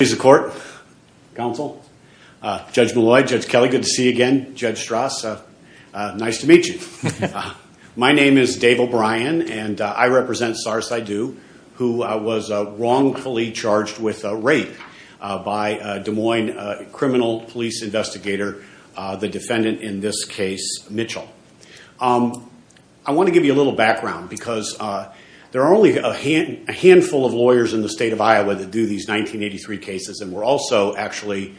My name is Dave O'Brien, and I represent Sahr Saidu, who was wrongfully charged with rape by a Des Moines criminal police investigator, the defendant in this case, Mitchell. I want to give you a little background, because there are only a handful of lawyers in the case, and we're also actually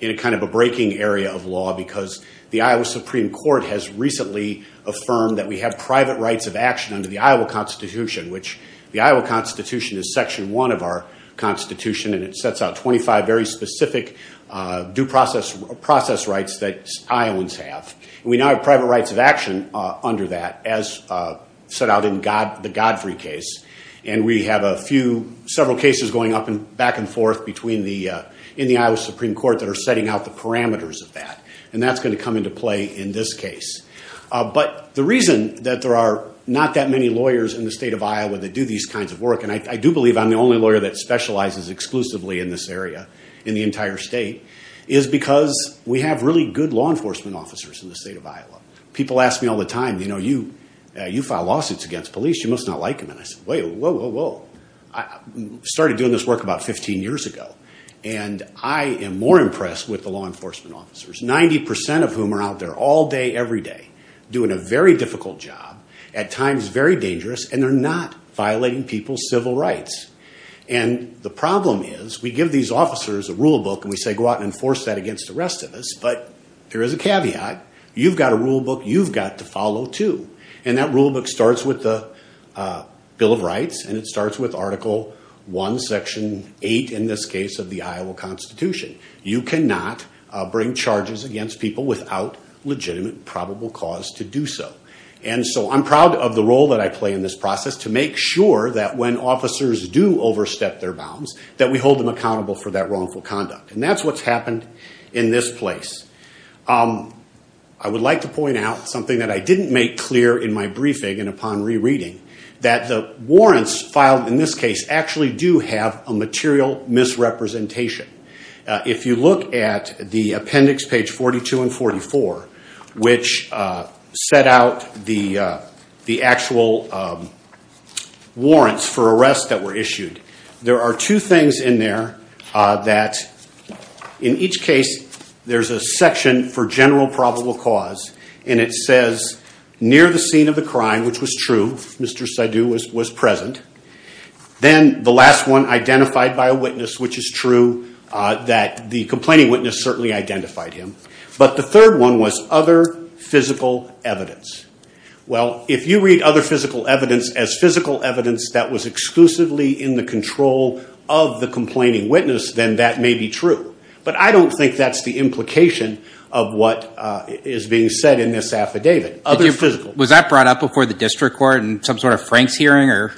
in a kind of a breaking area of law, because the Iowa Supreme Court has recently affirmed that we have private rights of action under the Iowa Constitution, which the Iowa Constitution is Section 1 of our Constitution, and it sets out 25 very specific due process rights that Iowans have. We now have private rights of action under that, as set out in the Godfrey case, and we have several cases going up and back and forth in the Iowa Supreme Court that are setting out the parameters of that, and that's going to come into play in this case. But the reason that there are not that many lawyers in the state of Iowa that do these kinds of work, and I do believe I'm the only lawyer that specializes exclusively in this area in the entire state, is because we have really good law enforcement officers in the state of Iowa. People ask me all the time, you know, you file lawsuits against police, you must not like them. And I say, wait, whoa, whoa, whoa. I started doing this work about 15 years ago, and I am more impressed with the law enforcement officers, 90% of whom are out there all day, every day, doing a very difficult job, at times very dangerous, and they're not violating people's civil rights. And the problem is, we give these officers a rule book, and we say, go out and enforce that against the rest of us, but there is a caveat. You've got a rule book you've got to follow too. And that rule book starts with the Bill of Rights, and it starts with Article 1, Section 8, in this case, of the Iowa Constitution. You cannot bring charges against people without legitimate, probable cause to do so. And so I'm proud of the role that I play in this process to make sure that when officers do overstep their bounds, that we hold them accountable for that wrongful conduct. And that's what's happened in this place. I would like to point out something that I didn't make clear in my briefing and upon rereading, that the warrants filed in this case actually do have a material misrepresentation. If you look at the appendix, page 42 and 44, which set out the actual warrants for arrests that were issued, there are two things in there that, in each case, there's a section for general probable cause, and it says, near the scene of the crime, which was true, Mr. Saidu was present. Then the last one, identified by a witness, which is true, that the complaining witness certainly identified him. But the third one was other physical evidence. Well, if you read other physical evidence as physical evidence that was exclusively in the control of the complaining witness, then that may be true. But I don't think that's the implication of what is being said in this affidavit. Was that brought up before the district court in some sort of Frank's hearing?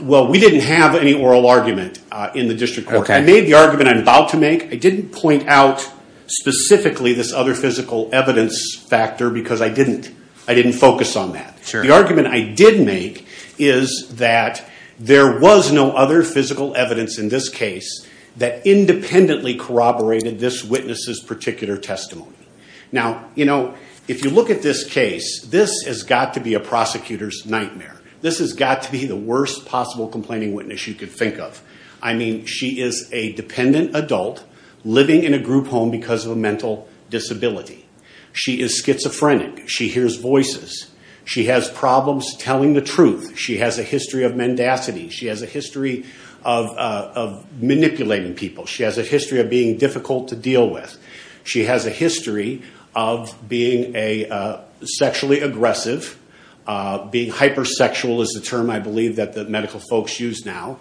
Well, we didn't have any oral argument in the district court. I made the argument I'm about to make. I didn't point out specifically this other physical evidence factor because I didn't focus on that. The argument I did make is that there was no other physical evidence in this case that independently corroborated this witness's particular testimony. Now, if you look at this case, this has got to be a prosecutor's nightmare. This has got to be the worst possible complaining witness you could think of. I mean, she is a dependent adult living in a group home because of a mental disability. She is schizophrenic. She hears voices. She has problems telling the truth. She has a history of mendacity. She has a history of manipulating people. She has a history of being difficult to deal with. She has a history of being sexually aggressive. Being hypersexual is the term I believe that the medical folks use now.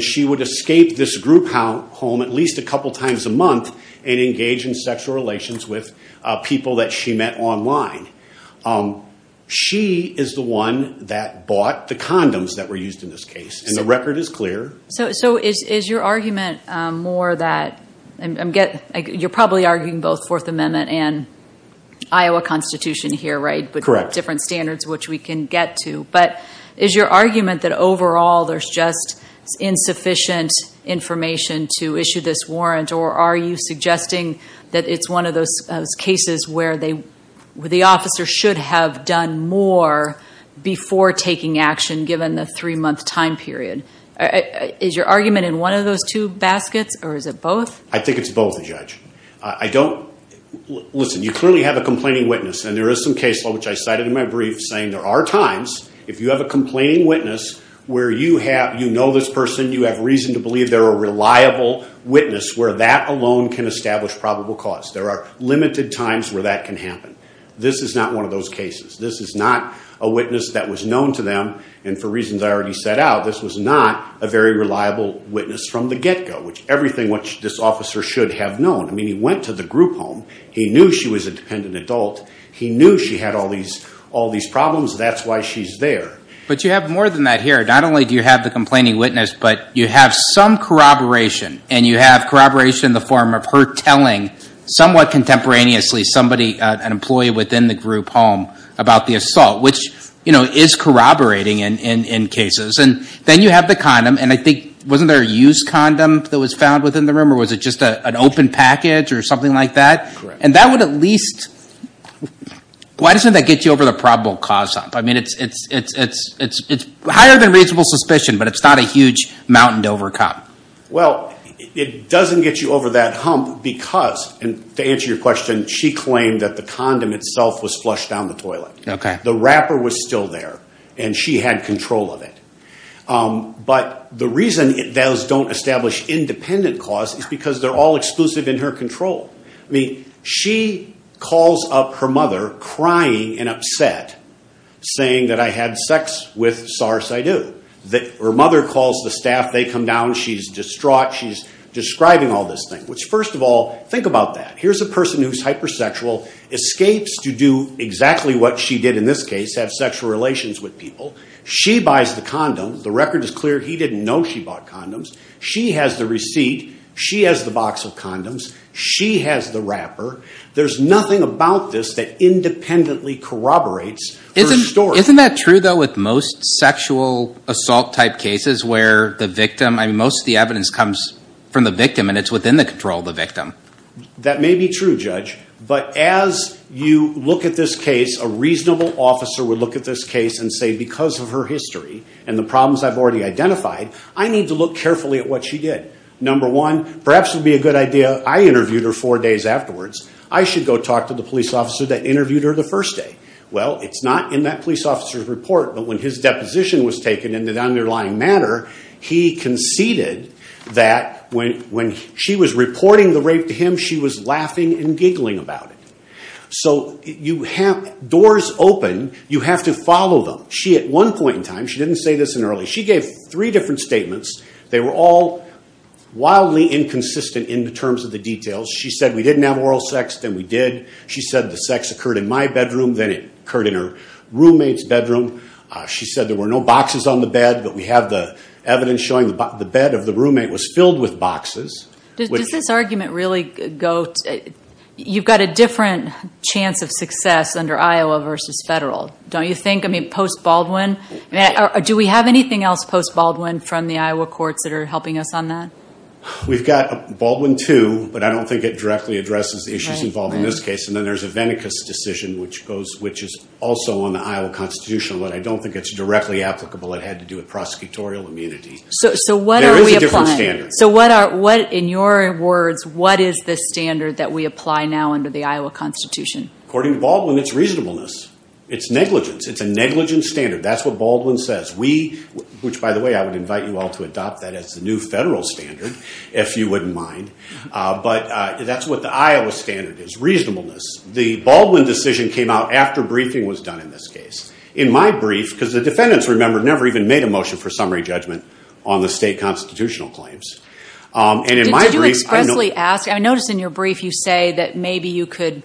She would escape this group home at least a couple times a month and engage in sexual relations with people that she met online. She is the one that bought the condoms that were used in this case, and the record is clear. So is your argument more that... You're probably arguing both Fourth Amendment and Iowa Constitution here, right? Correct. Different standards which we can get to. But is your argument that overall there's just insufficient information to issue this warrant or are you suggesting that it's one of those cases where the officer should have done more before taking action given the three month time period? Is your argument in one of those two baskets or is it both? I think it's both, Judge. You clearly have a complaining witness and there is some case law which I cited in my If you have a complaining witness where you know this person, you have reason to believe they're a reliable witness where that alone can establish probable cause. There are limited times where that can happen. This is not one of those cases. This is not a witness that was known to them, and for reasons I already set out, this was not a very reliable witness from the get-go, which everything which this officer should have known. He went to the group home. He knew she was a dependent adult. He knew she had all these problems. That's why she's there. But you have more than that here. Not only do you have the complaining witness, but you have some corroboration, and you have corroboration in the form of her telling, somewhat contemporaneously, somebody, an employee within the group home about the assault, which is corroborating in cases. And then you have the condom, and I think, wasn't there a used condom that was found within the room or was it just an open package or something like that? And that would at least, why doesn't that get you over the probable cause hump? I mean, it's higher than reasonable suspicion, but it's not a huge mountain to overcome. Well, it doesn't get you over that hump because, and to answer your question, she claimed that the condom itself was flushed down the toilet. The wrapper was still there, and she had control of it. But the reason those don't establish independent cause is because they're all exclusive in her control. I mean, she calls up her mother, crying and upset, saying that I had sex with SARS-I-Do. Her mother calls the staff. They come down. She's distraught. She's describing all this thing, which, first of all, think about that. Here's a person who's hypersexual, escapes to do exactly what she did in this case, have sexual relations with people. She buys the condom. The record is clear. He didn't know she bought condoms. She has the receipt. She has the box of condoms. She has the wrapper. There's nothing about this that independently corroborates her story. Isn't that true, though, with most sexual assault-type cases where the victim, I mean, most of the evidence comes from the victim, and it's within the control of the victim? That may be true, Judge, but as you look at this case, a reasonable officer would look at this case and say, because of her history and the problems I've already identified, I need to look carefully at what she did. Number one, perhaps it would be a good idea, I interviewed her four days afterwards. I should go talk to the police officer that interviewed her the first day. Well, it's not in that police officer's report, but when his deposition was taken in the underlying matter, he conceded that when she was reporting the rape to him, she was laughing and giggling about it. So doors open. You have to follow them. She, at one point in time, she didn't say this in early. She gave three different statements. They were all wildly inconsistent in terms of the details. She said we didn't have oral sex, then we did. She said the sex occurred in my bedroom, then it occurred in her roommate's bedroom. She said there were no boxes on the bed, but we have the evidence showing the bed of the roommate was filled with boxes. Does this argument really go, you've got a different chance of success under Iowa versus federal, don't you think? I mean, post-Baldwin? Do we have anything else post-Baldwin from the Iowa courts that are helping us on that? We've got Baldwin II, but I don't think it directly addresses the issues involved in this case. And then there's a Venicus decision, which is also on the Iowa Constitution, but I don't think it's directly applicable. It had to do with prosecutorial immunity. So what are we applying? There is a different standard. So what, in your words, what is the standard that we apply now under the Iowa Constitution? According to Baldwin, it's reasonableness. It's negligence. It's a negligence standard. That's what Baldwin says. We, which, by the way, I would invite you all to adopt that as the new federal standard, if you wouldn't mind. But that's what the Iowa standard is, reasonableness. The Baldwin decision came out after briefing was done in this case. In my brief, because the defendants, remember, never even made a motion for summary judgment on the state constitutional claims. And in my brief- Did you expressly ask, I noticed in your brief you say that maybe you could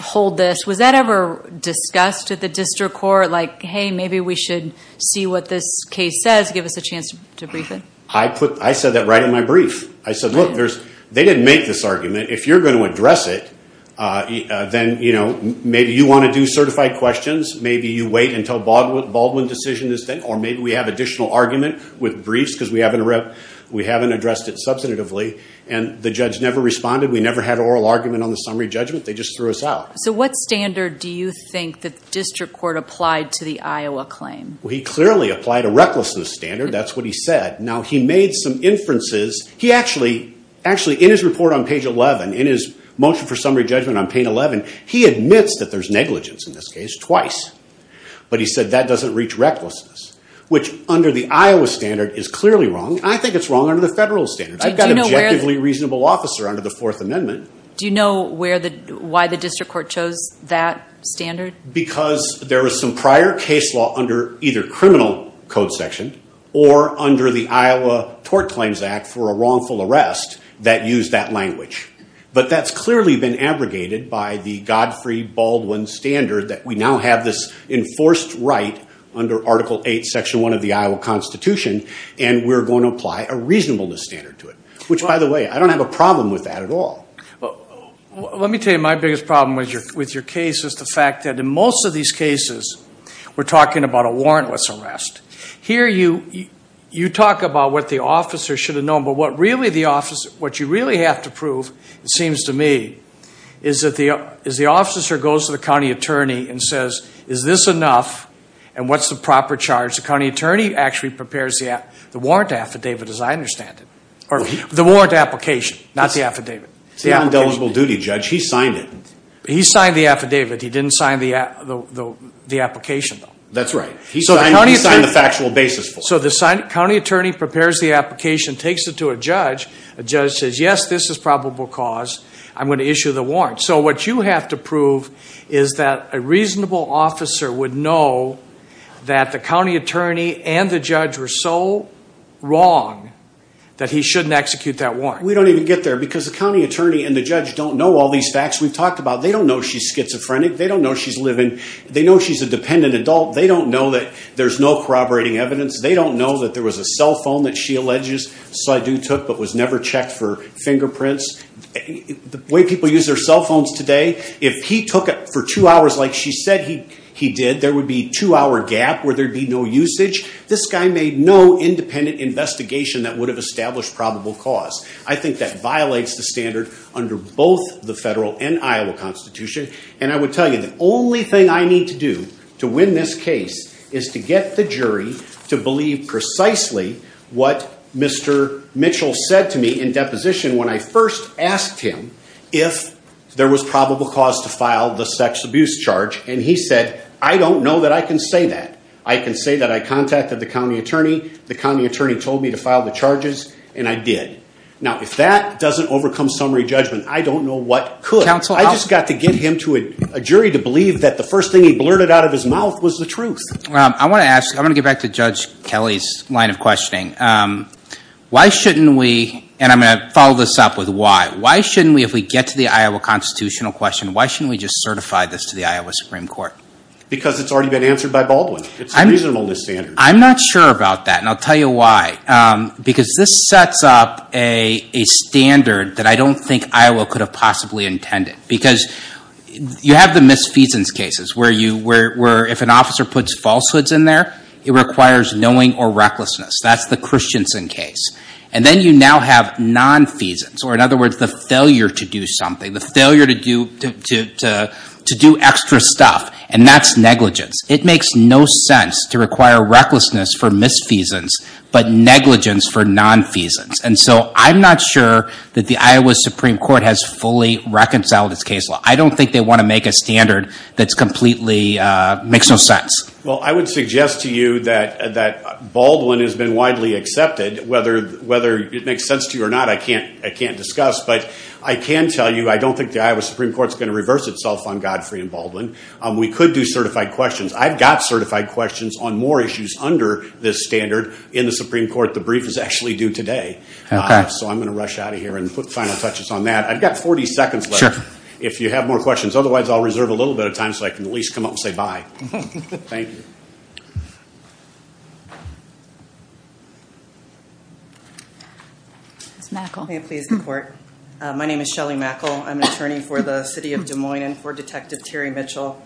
hold this. Was that ever discussed at the district court, like, hey, maybe we should see what this case says, give us a chance to brief it? I said that right in my brief. I said, look, they didn't make this argument. If you're going to address it, then maybe you want to do certified questions. Maybe you wait until Baldwin's decision is done. Or maybe we have additional argument with briefs because we haven't addressed it substantively. And the judge never responded. We never had an oral argument on the summary judgment. They just threw us out. So what standard do you think the district court applied to the Iowa claim? Well, he clearly applied a recklessness standard. That's what he said. Now, he made some inferences. He actually, in his report on page 11, in his motion for summary judgment on page 11, he admits that there's negligence in this case, twice. But he said that doesn't reach recklessness, which under the Iowa standard is clearly wrong. I think it's wrong under the federal standard. I've got an objectively reasonable officer under the Fourth Amendment. Do you know why the district court chose that standard? Because there was some prior case law under either criminal code section or under the Iowa Tort Claims Act for a wrongful arrest that used that language. But that's clearly been abrogated by the Godfrey-Baldwin standard that we now have this enforced right under Article 8, Section 1 of the Iowa Constitution, and we're going to apply a reasonableness standard to it. Which, by the way, I don't have a problem with that at all. Let me tell you my biggest problem with your case is the fact that in most of these cases, we're talking about a warrantless arrest. Here you talk about what the officer should have known, but what you really have to prove, it seems to me, is the officer goes to the county attorney and says, is this enough, and what's the proper charge? The county attorney actually prepares the warrant affidavit, as I understand it. The warrant application, not the affidavit. The undeligible duty judge, he signed it. He signed the affidavit, he didn't sign the application, though. That's right. He signed the factual basis for it. So the county attorney prepares the application, takes it to a judge, the judge says, yes, this is probable cause, I'm going to issue the warrant. So what you have to prove is that a reasonable officer would know that the county attorney and the judge were so wrong that he shouldn't execute that warrant. We don't even get there because the county attorney and the judge don't know all these facts we've talked about. They don't know she's schizophrenic. They don't know she's living, they know she's a dependent adult. They don't know that there's no corroborating evidence. They don't know that there was a cell phone that she alleges Seydoux took but was never checked for fingerprints. The way people use their cell phones today, if he took it for two hours like she said he did, there would be a two hour gap where there'd be no usage. This guy made no independent investigation that would have established probable cause. I think that violates the standard under both the federal and Iowa constitution. And I would tell you, the only thing I need to do to win this case is to get the jury to believe precisely what Mr. Mitchell said to me in deposition when I first asked him if there was probable cause to file the sex abuse charge and he said, I don't know that I can say that. I can say that I contacted the county attorney, the county attorney told me to file the charges and I did. Now, if that doesn't overcome summary judgment, I don't know what could. I just got to get him to a jury to believe that the first thing he blurted out of his mouth was the truth. I want to ask, I want to get back to Judge Kelly's line of questioning. Why shouldn't we, and I'm going to follow this up with why. Why shouldn't we, if we get to the Iowa constitutional question, why shouldn't we just certify this to the Iowa Supreme Court? Because it's already been answered by Baldwin, it's a reasonable standard. I'm not sure about that and I'll tell you why. Because this sets up a standard that I don't think Iowa could have possibly intended. Because you have the misfeasance cases where if an officer puts falsehoods in there, it requires knowing or recklessness. That's the Christensen case. And then you now have non-feasance, or in other words, the failure to do something, the failure to do extra stuff, and that's negligence. It makes no sense to require recklessness for misfeasance, but negligence for non-feasance. And so, I'm not sure that the Iowa Supreme Court has fully reconciled its case law. I don't think they want to make a standard that's completely, makes no sense. Well, I would suggest to you that Baldwin has been widely accepted, whether it makes sense to you or not, I can't discuss. But I can tell you, I don't think the Iowa Supreme Court is going to reverse itself on Godfrey and Baldwin. We could do certified questions. I've got certified questions on more issues under this standard in the Supreme Court. The brief is actually due today, so I'm going to rush out of here and put final touches on that. I've got 40 seconds left. If you have more questions. Otherwise, I'll reserve a little bit of time so I can at least come up and say bye. Thank you. Ms. Mackle. May it please the court. My name is Shelly Mackle. I'm an attorney for the city of Des Moines and for Detective Terry Mitchell.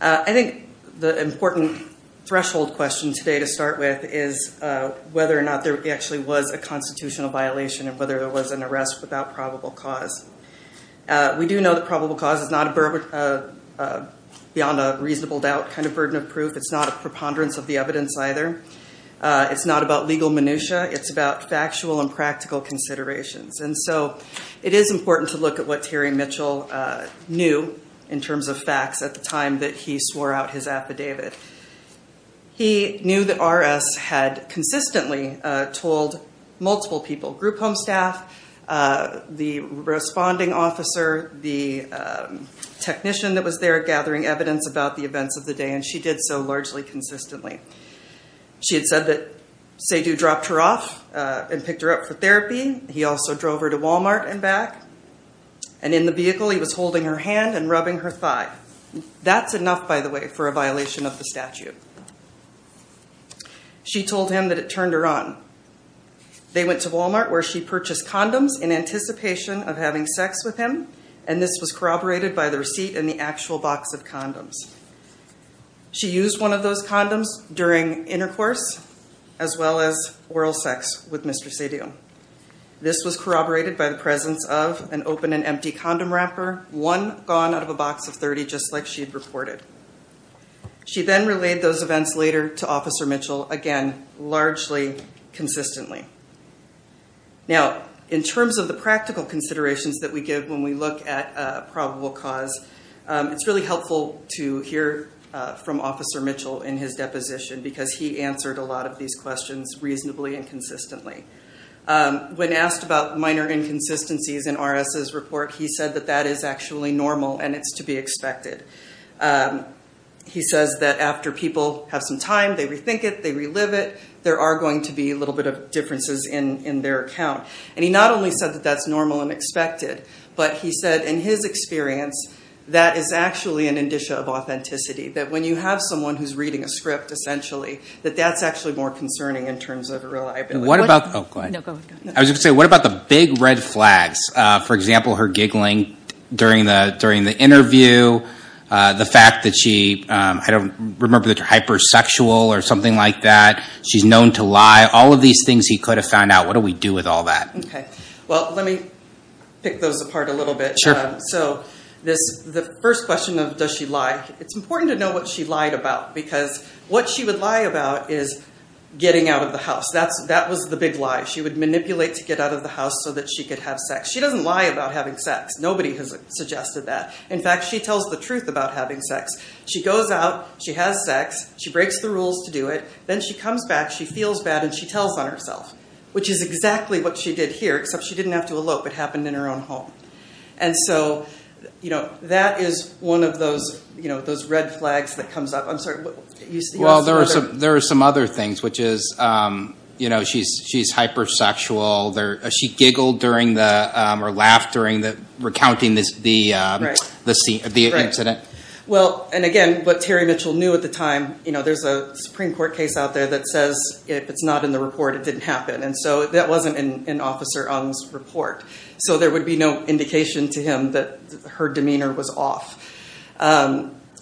I think the important threshold question today to start with is whether or not there actually was a constitutional violation and whether there was an arrest without probable cause. We do know that probable cause is not beyond a reasonable doubt kind of burden of proof. It's not a preponderance of the evidence either. It's not about legal minutia. It's about factual and practical considerations. So it is important to look at what Terry Mitchell knew in terms of facts at the time that he swore out his affidavit. He knew that RS had consistently told multiple people, group home staff, the responding officer, the technician that was there gathering evidence about the events of the day, and she did so largely consistently. She had said that Seydoux dropped her off and picked her up for therapy. He also drove her to Walmart and back, and in the vehicle he was holding her hand and rubbing her thigh. That's enough, by the way, for a violation of the statute. She told him that it turned her on. They went to Walmart where she purchased condoms in anticipation of having sex with him, and this was corroborated by the receipt and the actual box of condoms. She used one of those condoms during intercourse as well as oral sex with Mr. Seydoux. This was corroborated by the presence of an open and empty condom wrapper, one gone out of a box of 30, just like she had reported. She then relayed those events later to Officer Mitchell, again, largely consistently. Now in terms of the practical considerations that we give when we look at a probable cause, it's really helpful to hear from Officer Mitchell in his deposition because he answered a lot of these questions reasonably and consistently. When asked about minor inconsistencies in RS's report, he said that that is actually normal and it's to be expected. He says that after people have some time, they rethink it, they relive it, there are going to be a little bit of differences in their account. He not only said that that's normal and expected, but he said in his experience, that is actually an indicia of authenticity. That when you have someone who's reading a script, essentially, that that's actually more concerning in terms of reliability. I was going to say, what about the big red flags? For example, her giggling during the interview, the fact that she, I don't remember if she's hypersexual or something like that, she's known to lie, all of these things he could have found out. What do we do with all that? Okay. Well, let me pick those apart a little bit. So the first question of does she lie, it's important to know what she lied about because what she would lie about is getting out of the house. That was the big lie. She would manipulate to get out of the house so that she could have sex. She doesn't lie about having sex. Nobody has suggested that. In fact, she tells the truth about having sex. She goes out, she has sex, she breaks the rules to do it, then she comes back, she feels bad and she tells on herself, which is exactly what she did here, except she didn't have to elope. It happened in her own home. That is one of those red flags that comes up. I'm sorry. Well, there are some other things, which is she's hypersexual. She giggled or laughed during recounting the incident. Right. Well, and again, what Terry Mitchell knew at the time, there's a Supreme Court case out there that says if it's not in the report, it didn't happen. That wasn't in Officer Ung's report. There would be no indication to him that her demeanor was off.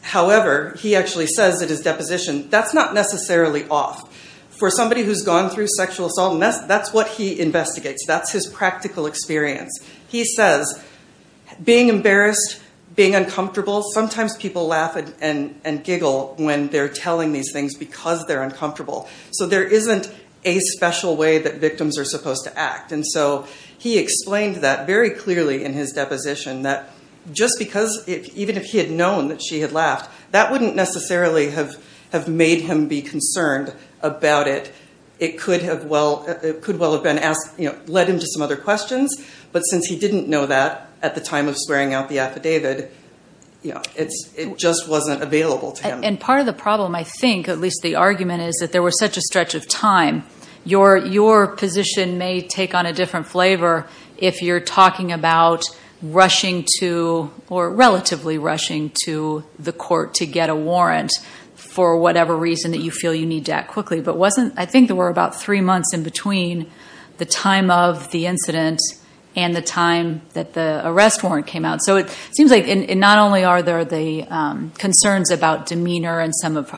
However, he actually says at his deposition, that's not necessarily off. For somebody who's gone through sexual assault, that's what he investigates. That's his practical experience. He says, being embarrassed, being uncomfortable, sometimes people laugh and giggle when they're uncomfortable. So there isn't a special way that victims are supposed to act. He explained that very clearly in his deposition, that just because, even if he had known that she had laughed, that wouldn't necessarily have made him be concerned about it. It could well have led him to some other questions. But since he didn't know that at the time of swearing out the affidavit, it just wasn't available to him. And part of the problem, I think, at least the argument is, that there was such a stretch of time, your position may take on a different flavor if you're talking about rushing to, or relatively rushing to, the court to get a warrant for whatever reason that you feel you need to act quickly. But wasn't, I think there were about three months in between the time of the incident and the time that the arrest warrant came out. So it seems like not only are there the concerns about demeanor and some of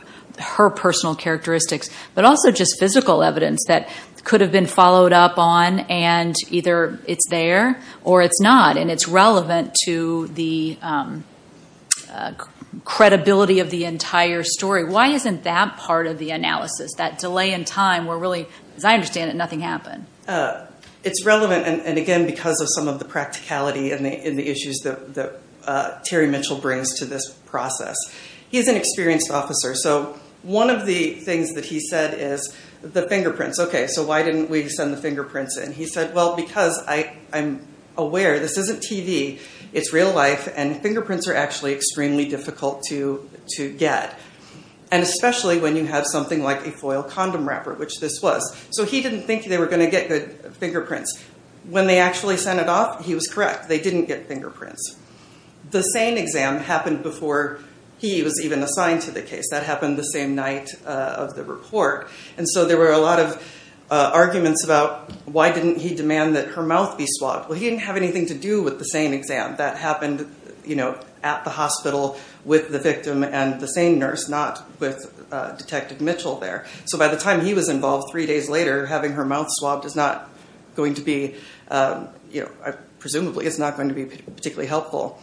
her personal characteristics, but also just physical evidence that could have been followed up on. And either it's there or it's not. And it's relevant to the credibility of the entire story. Why isn't that part of the analysis? That delay in time where really, as I understand it, nothing happened. It's relevant, and again, because of some of the practicality and the issues that Terry Mitchell brings to this process. He's an experienced officer. So one of the things that he said is the fingerprints, okay, so why didn't we send the fingerprints in? He said, well, because I'm aware this isn't TV, it's real life, and fingerprints are actually extremely difficult to get. And especially when you have something like a foil condom wrapper, which this was. So he didn't think they were going to get the fingerprints. When they actually sent it off, he was correct. They didn't get fingerprints. The SANE exam happened before he was even assigned to the case. That happened the same night of the report. And so there were a lot of arguments about why didn't he demand that her mouth be swabbed? Well, he didn't have anything to do with the SANE exam. That happened at the hospital with the victim and the SANE nurse, not with Detective Mitchell there. So by the time he was involved three days later, having her mouth swabbed is not going to be, presumably, it's not going to be particularly helpful.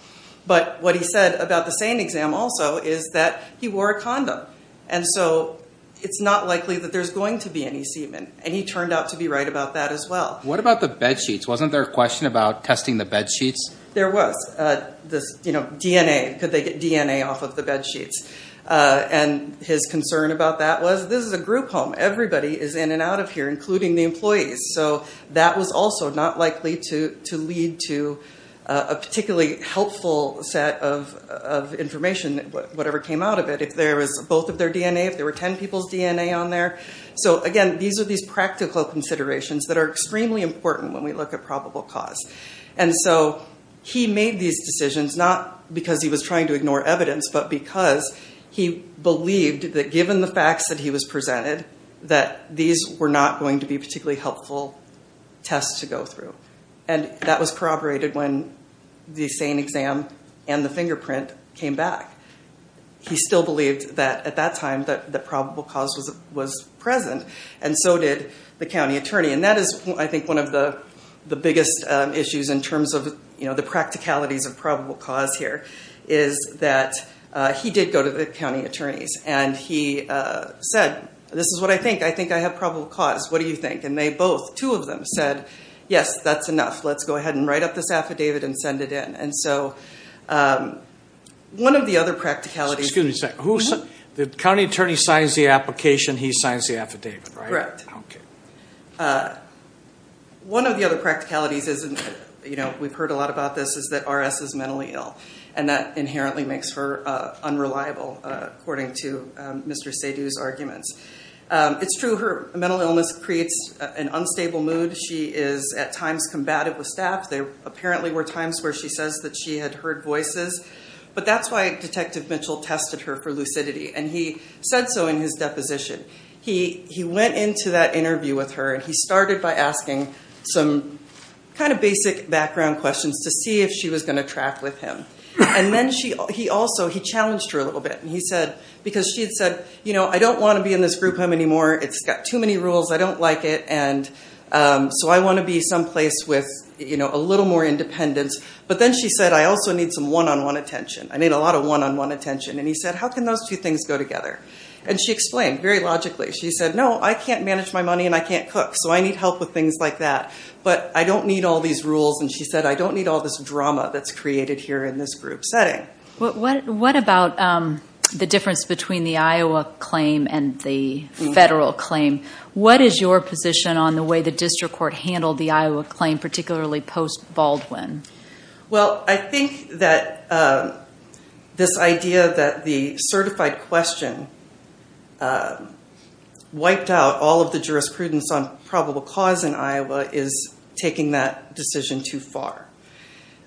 But what he said about the SANE exam also is that he wore a condom. And so it's not likely that there's going to be any semen. And he turned out to be right about that as well. What about the bedsheets? Wasn't there a question about testing the bedsheets? There was. This, you know, DNA, could they get DNA off of the bedsheets? And his concern about that was, this is a group home. Everybody is in and out of here, including the employees. So that was also not likely to lead to a particularly helpful set of information, whatever came out of it, if there was both of their DNA, if there were 10 people's DNA on there. So again, these are these practical considerations that are extremely important when we look at probable cause. And so he made these decisions, not because he was trying to ignore evidence, but because he believed that given the facts that he was presented, that these were not going to be particularly helpful tests to go through. And that was corroborated when the SANE exam and the fingerprint came back. He still believed that at that time, that probable cause was present. And so did the county attorney. And that is, I think, one of the biggest issues in terms of the practicalities of probable cause here, is that he did go to the county attorneys and he said, this is what I think. I think I have probable cause. What do you think? And they both, two of them, said, yes, that's enough. Let's go ahead and write up this affidavit and send it in. And so one of the other practicalities... Excuse me a second. The county attorney signs the application, he signs the affidavit, right? Correct. Okay. One of the other practicalities, we've heard a lot about this, is that RS is mentally ill. And that inherently makes her unreliable, according to Mr. Seydoux's arguments. It's true, her mental illness creates an unstable mood. She is at times combative with staff. There apparently were times where she says that she had heard voices. But that's why Detective Mitchell tested her for lucidity. And he said so in his deposition. He went into that interview with her and he started by asking some kind of basic background questions to see if she was going to track with him. And then he also challenged her a little bit, because she had said, I don't want to be in this group home anymore. It's got too many rules. I don't like it. And so I want to be someplace with a little more independence. But then she said, I also need some one-on-one attention. I need a lot of one-on-one attention. And he said, how can those two things go together? And she explained very logically. She said, no, I can't manage my money and I can't cook. So I need help with things like that. But I don't need all these rules. And she said, I don't need all this drama that's created here in this group setting. What about the difference between the Iowa claim and the federal claim? What is your position on the way the district court handled the Iowa claim, particularly post-Baldwin? Well, I think that this idea that the certified question wiped out all of the jurisprudence on probable cause in Iowa is taking that decision too far.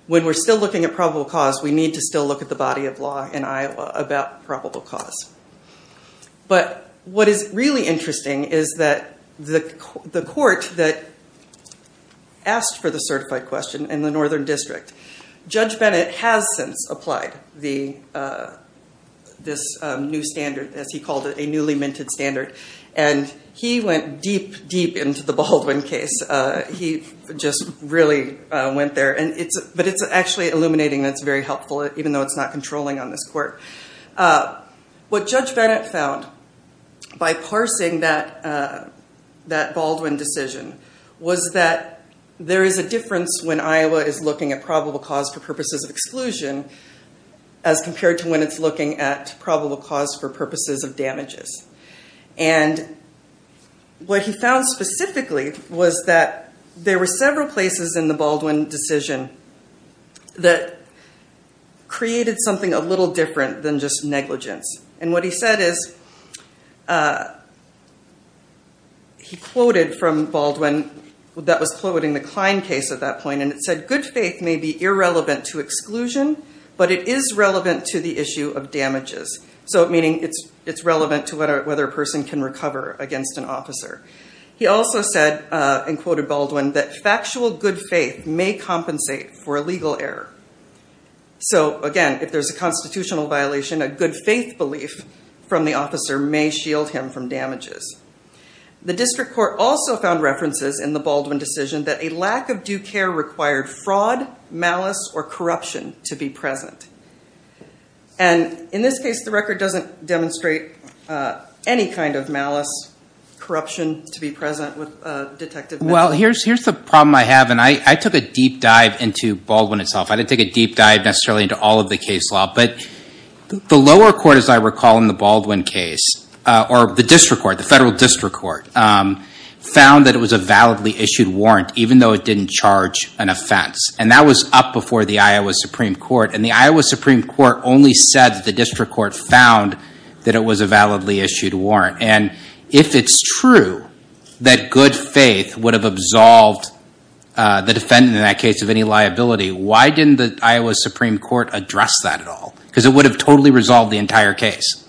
When we're still looking at probable cause, we need to still look at the body of law in Iowa about probable cause. But what is really interesting is that the court that asked for the certified question in the Northern District, Judge Bennett has since applied this new standard, as he called it, a newly minted standard. And he went deep, deep into the Baldwin case. He just really went there. But it's actually illuminating that it's very helpful, even though it's not controlling on this court. What Judge Bennett found by parsing that Baldwin decision was that there is a difference when Iowa is looking at probable cause for purposes of exclusion as compared to when it's looking at probable cause for purposes of damages. And what he found specifically was that there were several places in the Baldwin decision that created something a little different than just negligence. And what he said is, he quoted from Baldwin, that was quoting the Klein case at that point, and it said, good faith may be irrelevant to exclusion, but it is relevant to the issue of damages. So meaning it's relevant to whether a person can recover against an officer. He also said, and quoted Baldwin, that factual good faith may compensate for a legal error. So again, if there's a constitutional violation, a good faith belief from the officer may shield him from damages. The district court also found references in the Baldwin decision that a lack of due care required fraud, malice, or corruption to be present. And in this case, the record doesn't demonstrate any kind of malice, corruption to be present with Detective Bennett. Well, here's the problem I have. And I took a deep dive into Baldwin itself. I didn't take a deep dive necessarily into all of the case law. But the lower court, as I recall in the Baldwin case, or the district court, the federal district court, found that it was a validly issued warrant, even though it didn't charge an offense. And that was up before the Iowa Supreme Court. And the Iowa Supreme Court only said that the district court found that it was a validly issued warrant. And if it's true that good faith would have absolved the defendant in that case of any liability, why didn't the Iowa Supreme Court address that at all? Because it would have totally resolved the entire case.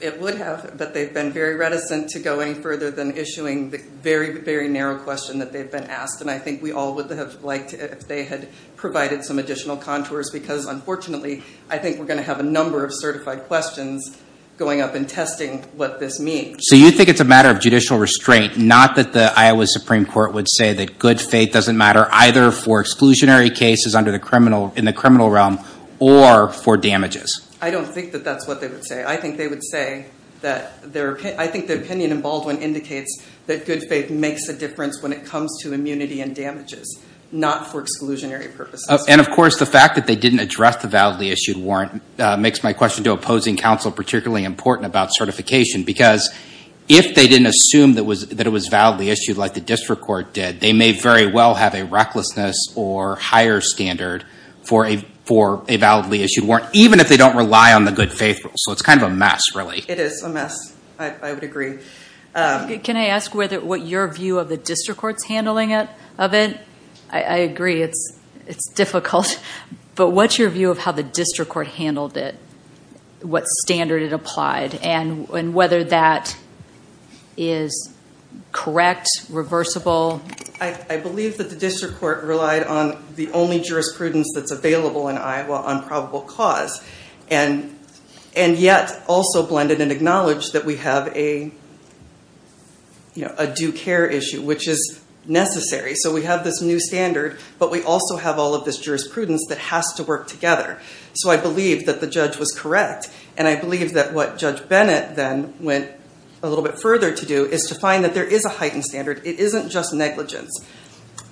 It would have. But they've been very reticent to go any further than issuing the very, very narrow question that they've been asked. And I think we all would have liked it if they had provided some additional contours because unfortunately, I think we're going to have a number of certified questions going up and testing what this means. So you think it's a matter of judicial restraint, not that the Iowa Supreme Court would say that good faith doesn't matter either for exclusionary cases under the criminal, in the criminal realm, or for damages? I don't think that that's what they would say. I think they would say that their, I think the opinion in Baldwin indicates that good faith makes a difference when it comes to immunity and damages, not for exclusionary purposes. And of course, the fact that they didn't address the validly issued warrant makes my question to opposing counsel particularly important about certification. Because if they didn't assume that it was validly issued like the district court did, they may very well have a recklessness or higher standard for a validly issued warrant, even if they don't rely on the good faith rule. So it's kind of a mess, really. It is a mess, I would agree. Can I ask what your view of the district court's handling of it? I agree, it's difficult. But what's your view of how the district court handled it? What standard it applied and whether that is correct, reversible? I believe that the district court relied on the only jurisprudence that's available in Iowa on probable cause. And yet also blended and acknowledged that we have a due care issue, which is necessary. So we have this new standard, but we also have all of this jurisprudence that has to work together. So I believe that the judge was correct. And I believe that what Judge Bennett then went a little bit further to do is to find that there is a heightened standard. It isn't just negligence.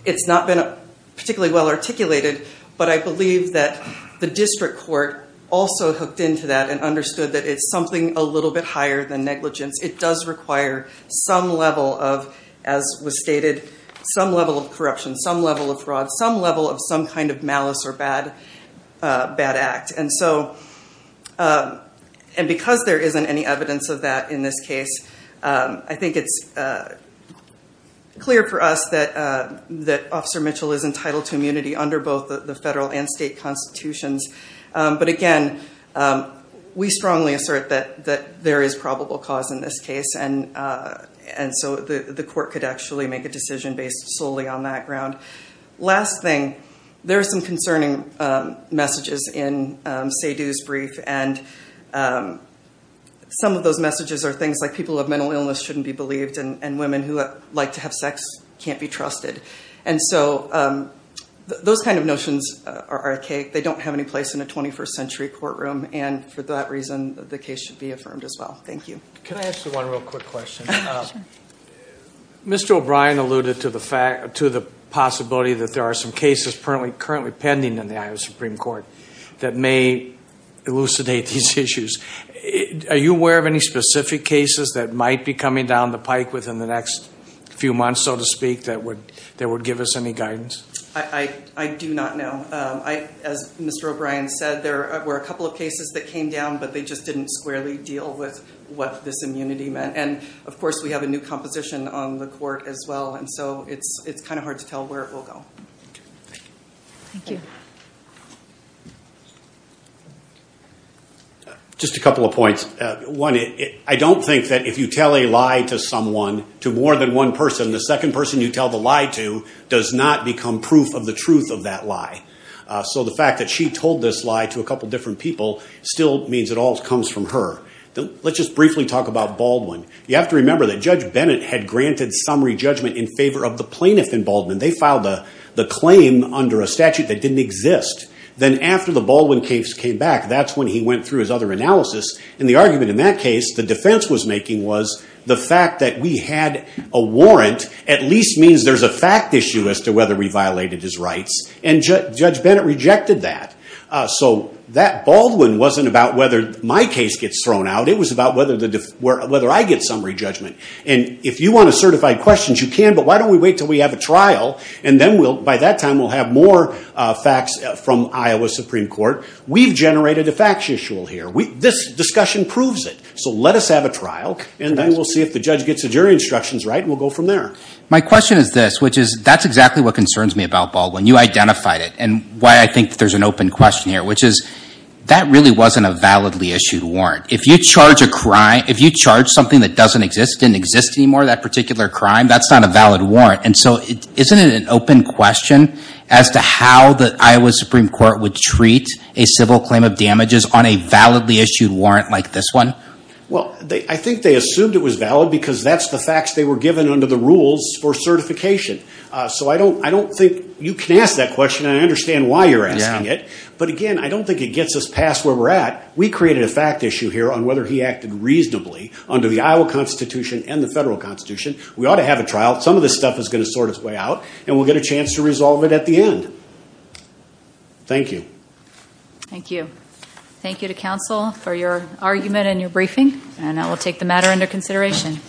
It's not been particularly well articulated, but I believe that the district court also hooked into that and understood that it's something a little bit higher than negligence. It does require some level of, as was stated, some level of corruption, some level of fraud, some level of some kind of malice or bad act. And so, and because there isn't any evidence of that in this case, I think it's clear for us that Officer Mitchell is entitled to immunity under both the federal and state constitutions. But again, we strongly assert that there is probable cause in this case. And so the court could actually make a decision based solely on that ground. Last thing, there are some concerning messages in Seydoux's brief, and some of those messages are things like people of mental illness shouldn't be believed and women who like to have sex can't be trusted. And so those kind of notions are archaic. They don't have any place in a 21st century courtroom, and for that reason, the case should be affirmed as well. Thank you. Can I ask you one real quick question? Sure. Mr. O'Brien alluded to the fact, to the possibility that there are some cases currently pending in the Iowa Supreme Court that may elucidate these issues. Are you aware of any specific cases that might be coming down the pike within the next few months, so to speak, that would give us any guidance? I do not know. As Mr. O'Brien said, there were a couple of cases that came down, but they just didn't squarely deal with what this immunity meant. And of course, we have a new composition on the court as well, and so it's kind of hard to tell where it will go. Thank you. Just a couple of points. One, I don't think that if you tell a lie to someone, to more than one person, the second person you tell the lie to does not become proof of the truth of that lie. So the fact that she told this lie to a couple different people still means it all comes from her. Let's just briefly talk about Baldwin. You have to remember that Judge Bennett had granted summary judgment in favor of the plaintiff in Baldwin. They filed the claim under a statute that didn't exist. Then after the Baldwin case came back, that's when he went through his other analysis, and the argument in that case the defense was making was the fact that we had a warrant at least means there's a fact issue as to whether we violated his rights, and Judge Bennett rejected that. So that Baldwin wasn't about whether my case gets thrown out. It was about whether I get summary judgment. If you want to certify questions, you can, but why don't we wait until we have a trial, and then by that time we'll have more facts from Iowa Supreme Court. We've generated a facts issue here. This discussion proves it, so let us have a trial, and then we'll see if the judge gets the jury instructions right, and we'll go from there. My question is this, which is that's exactly what concerns me about Baldwin. You identified it, and why I think there's an open question here, which is that really wasn't a validly issued warrant. If you charge a crime, if you charge something that doesn't exist, didn't exist anymore, that particular crime, that's not a valid warrant, and so isn't it an open question as to how the Iowa Supreme Court would treat a civil claim of damages on a validly issued warrant like this one? Well, I think they assumed it was valid because that's the facts they were given under the rules for certification. So I don't think you can ask that question, and I understand why you're asking it, but again, I don't think it gets us past where we're at. We created a fact issue here on whether he acted reasonably under the Iowa Constitution and the federal constitution. We ought to have a trial. Some of this stuff is going to sort its way out, and we'll get a chance to resolve it at the end. Thank you. Thank you. Thank you to counsel for your argument and your briefing, and I will take the matter into consideration.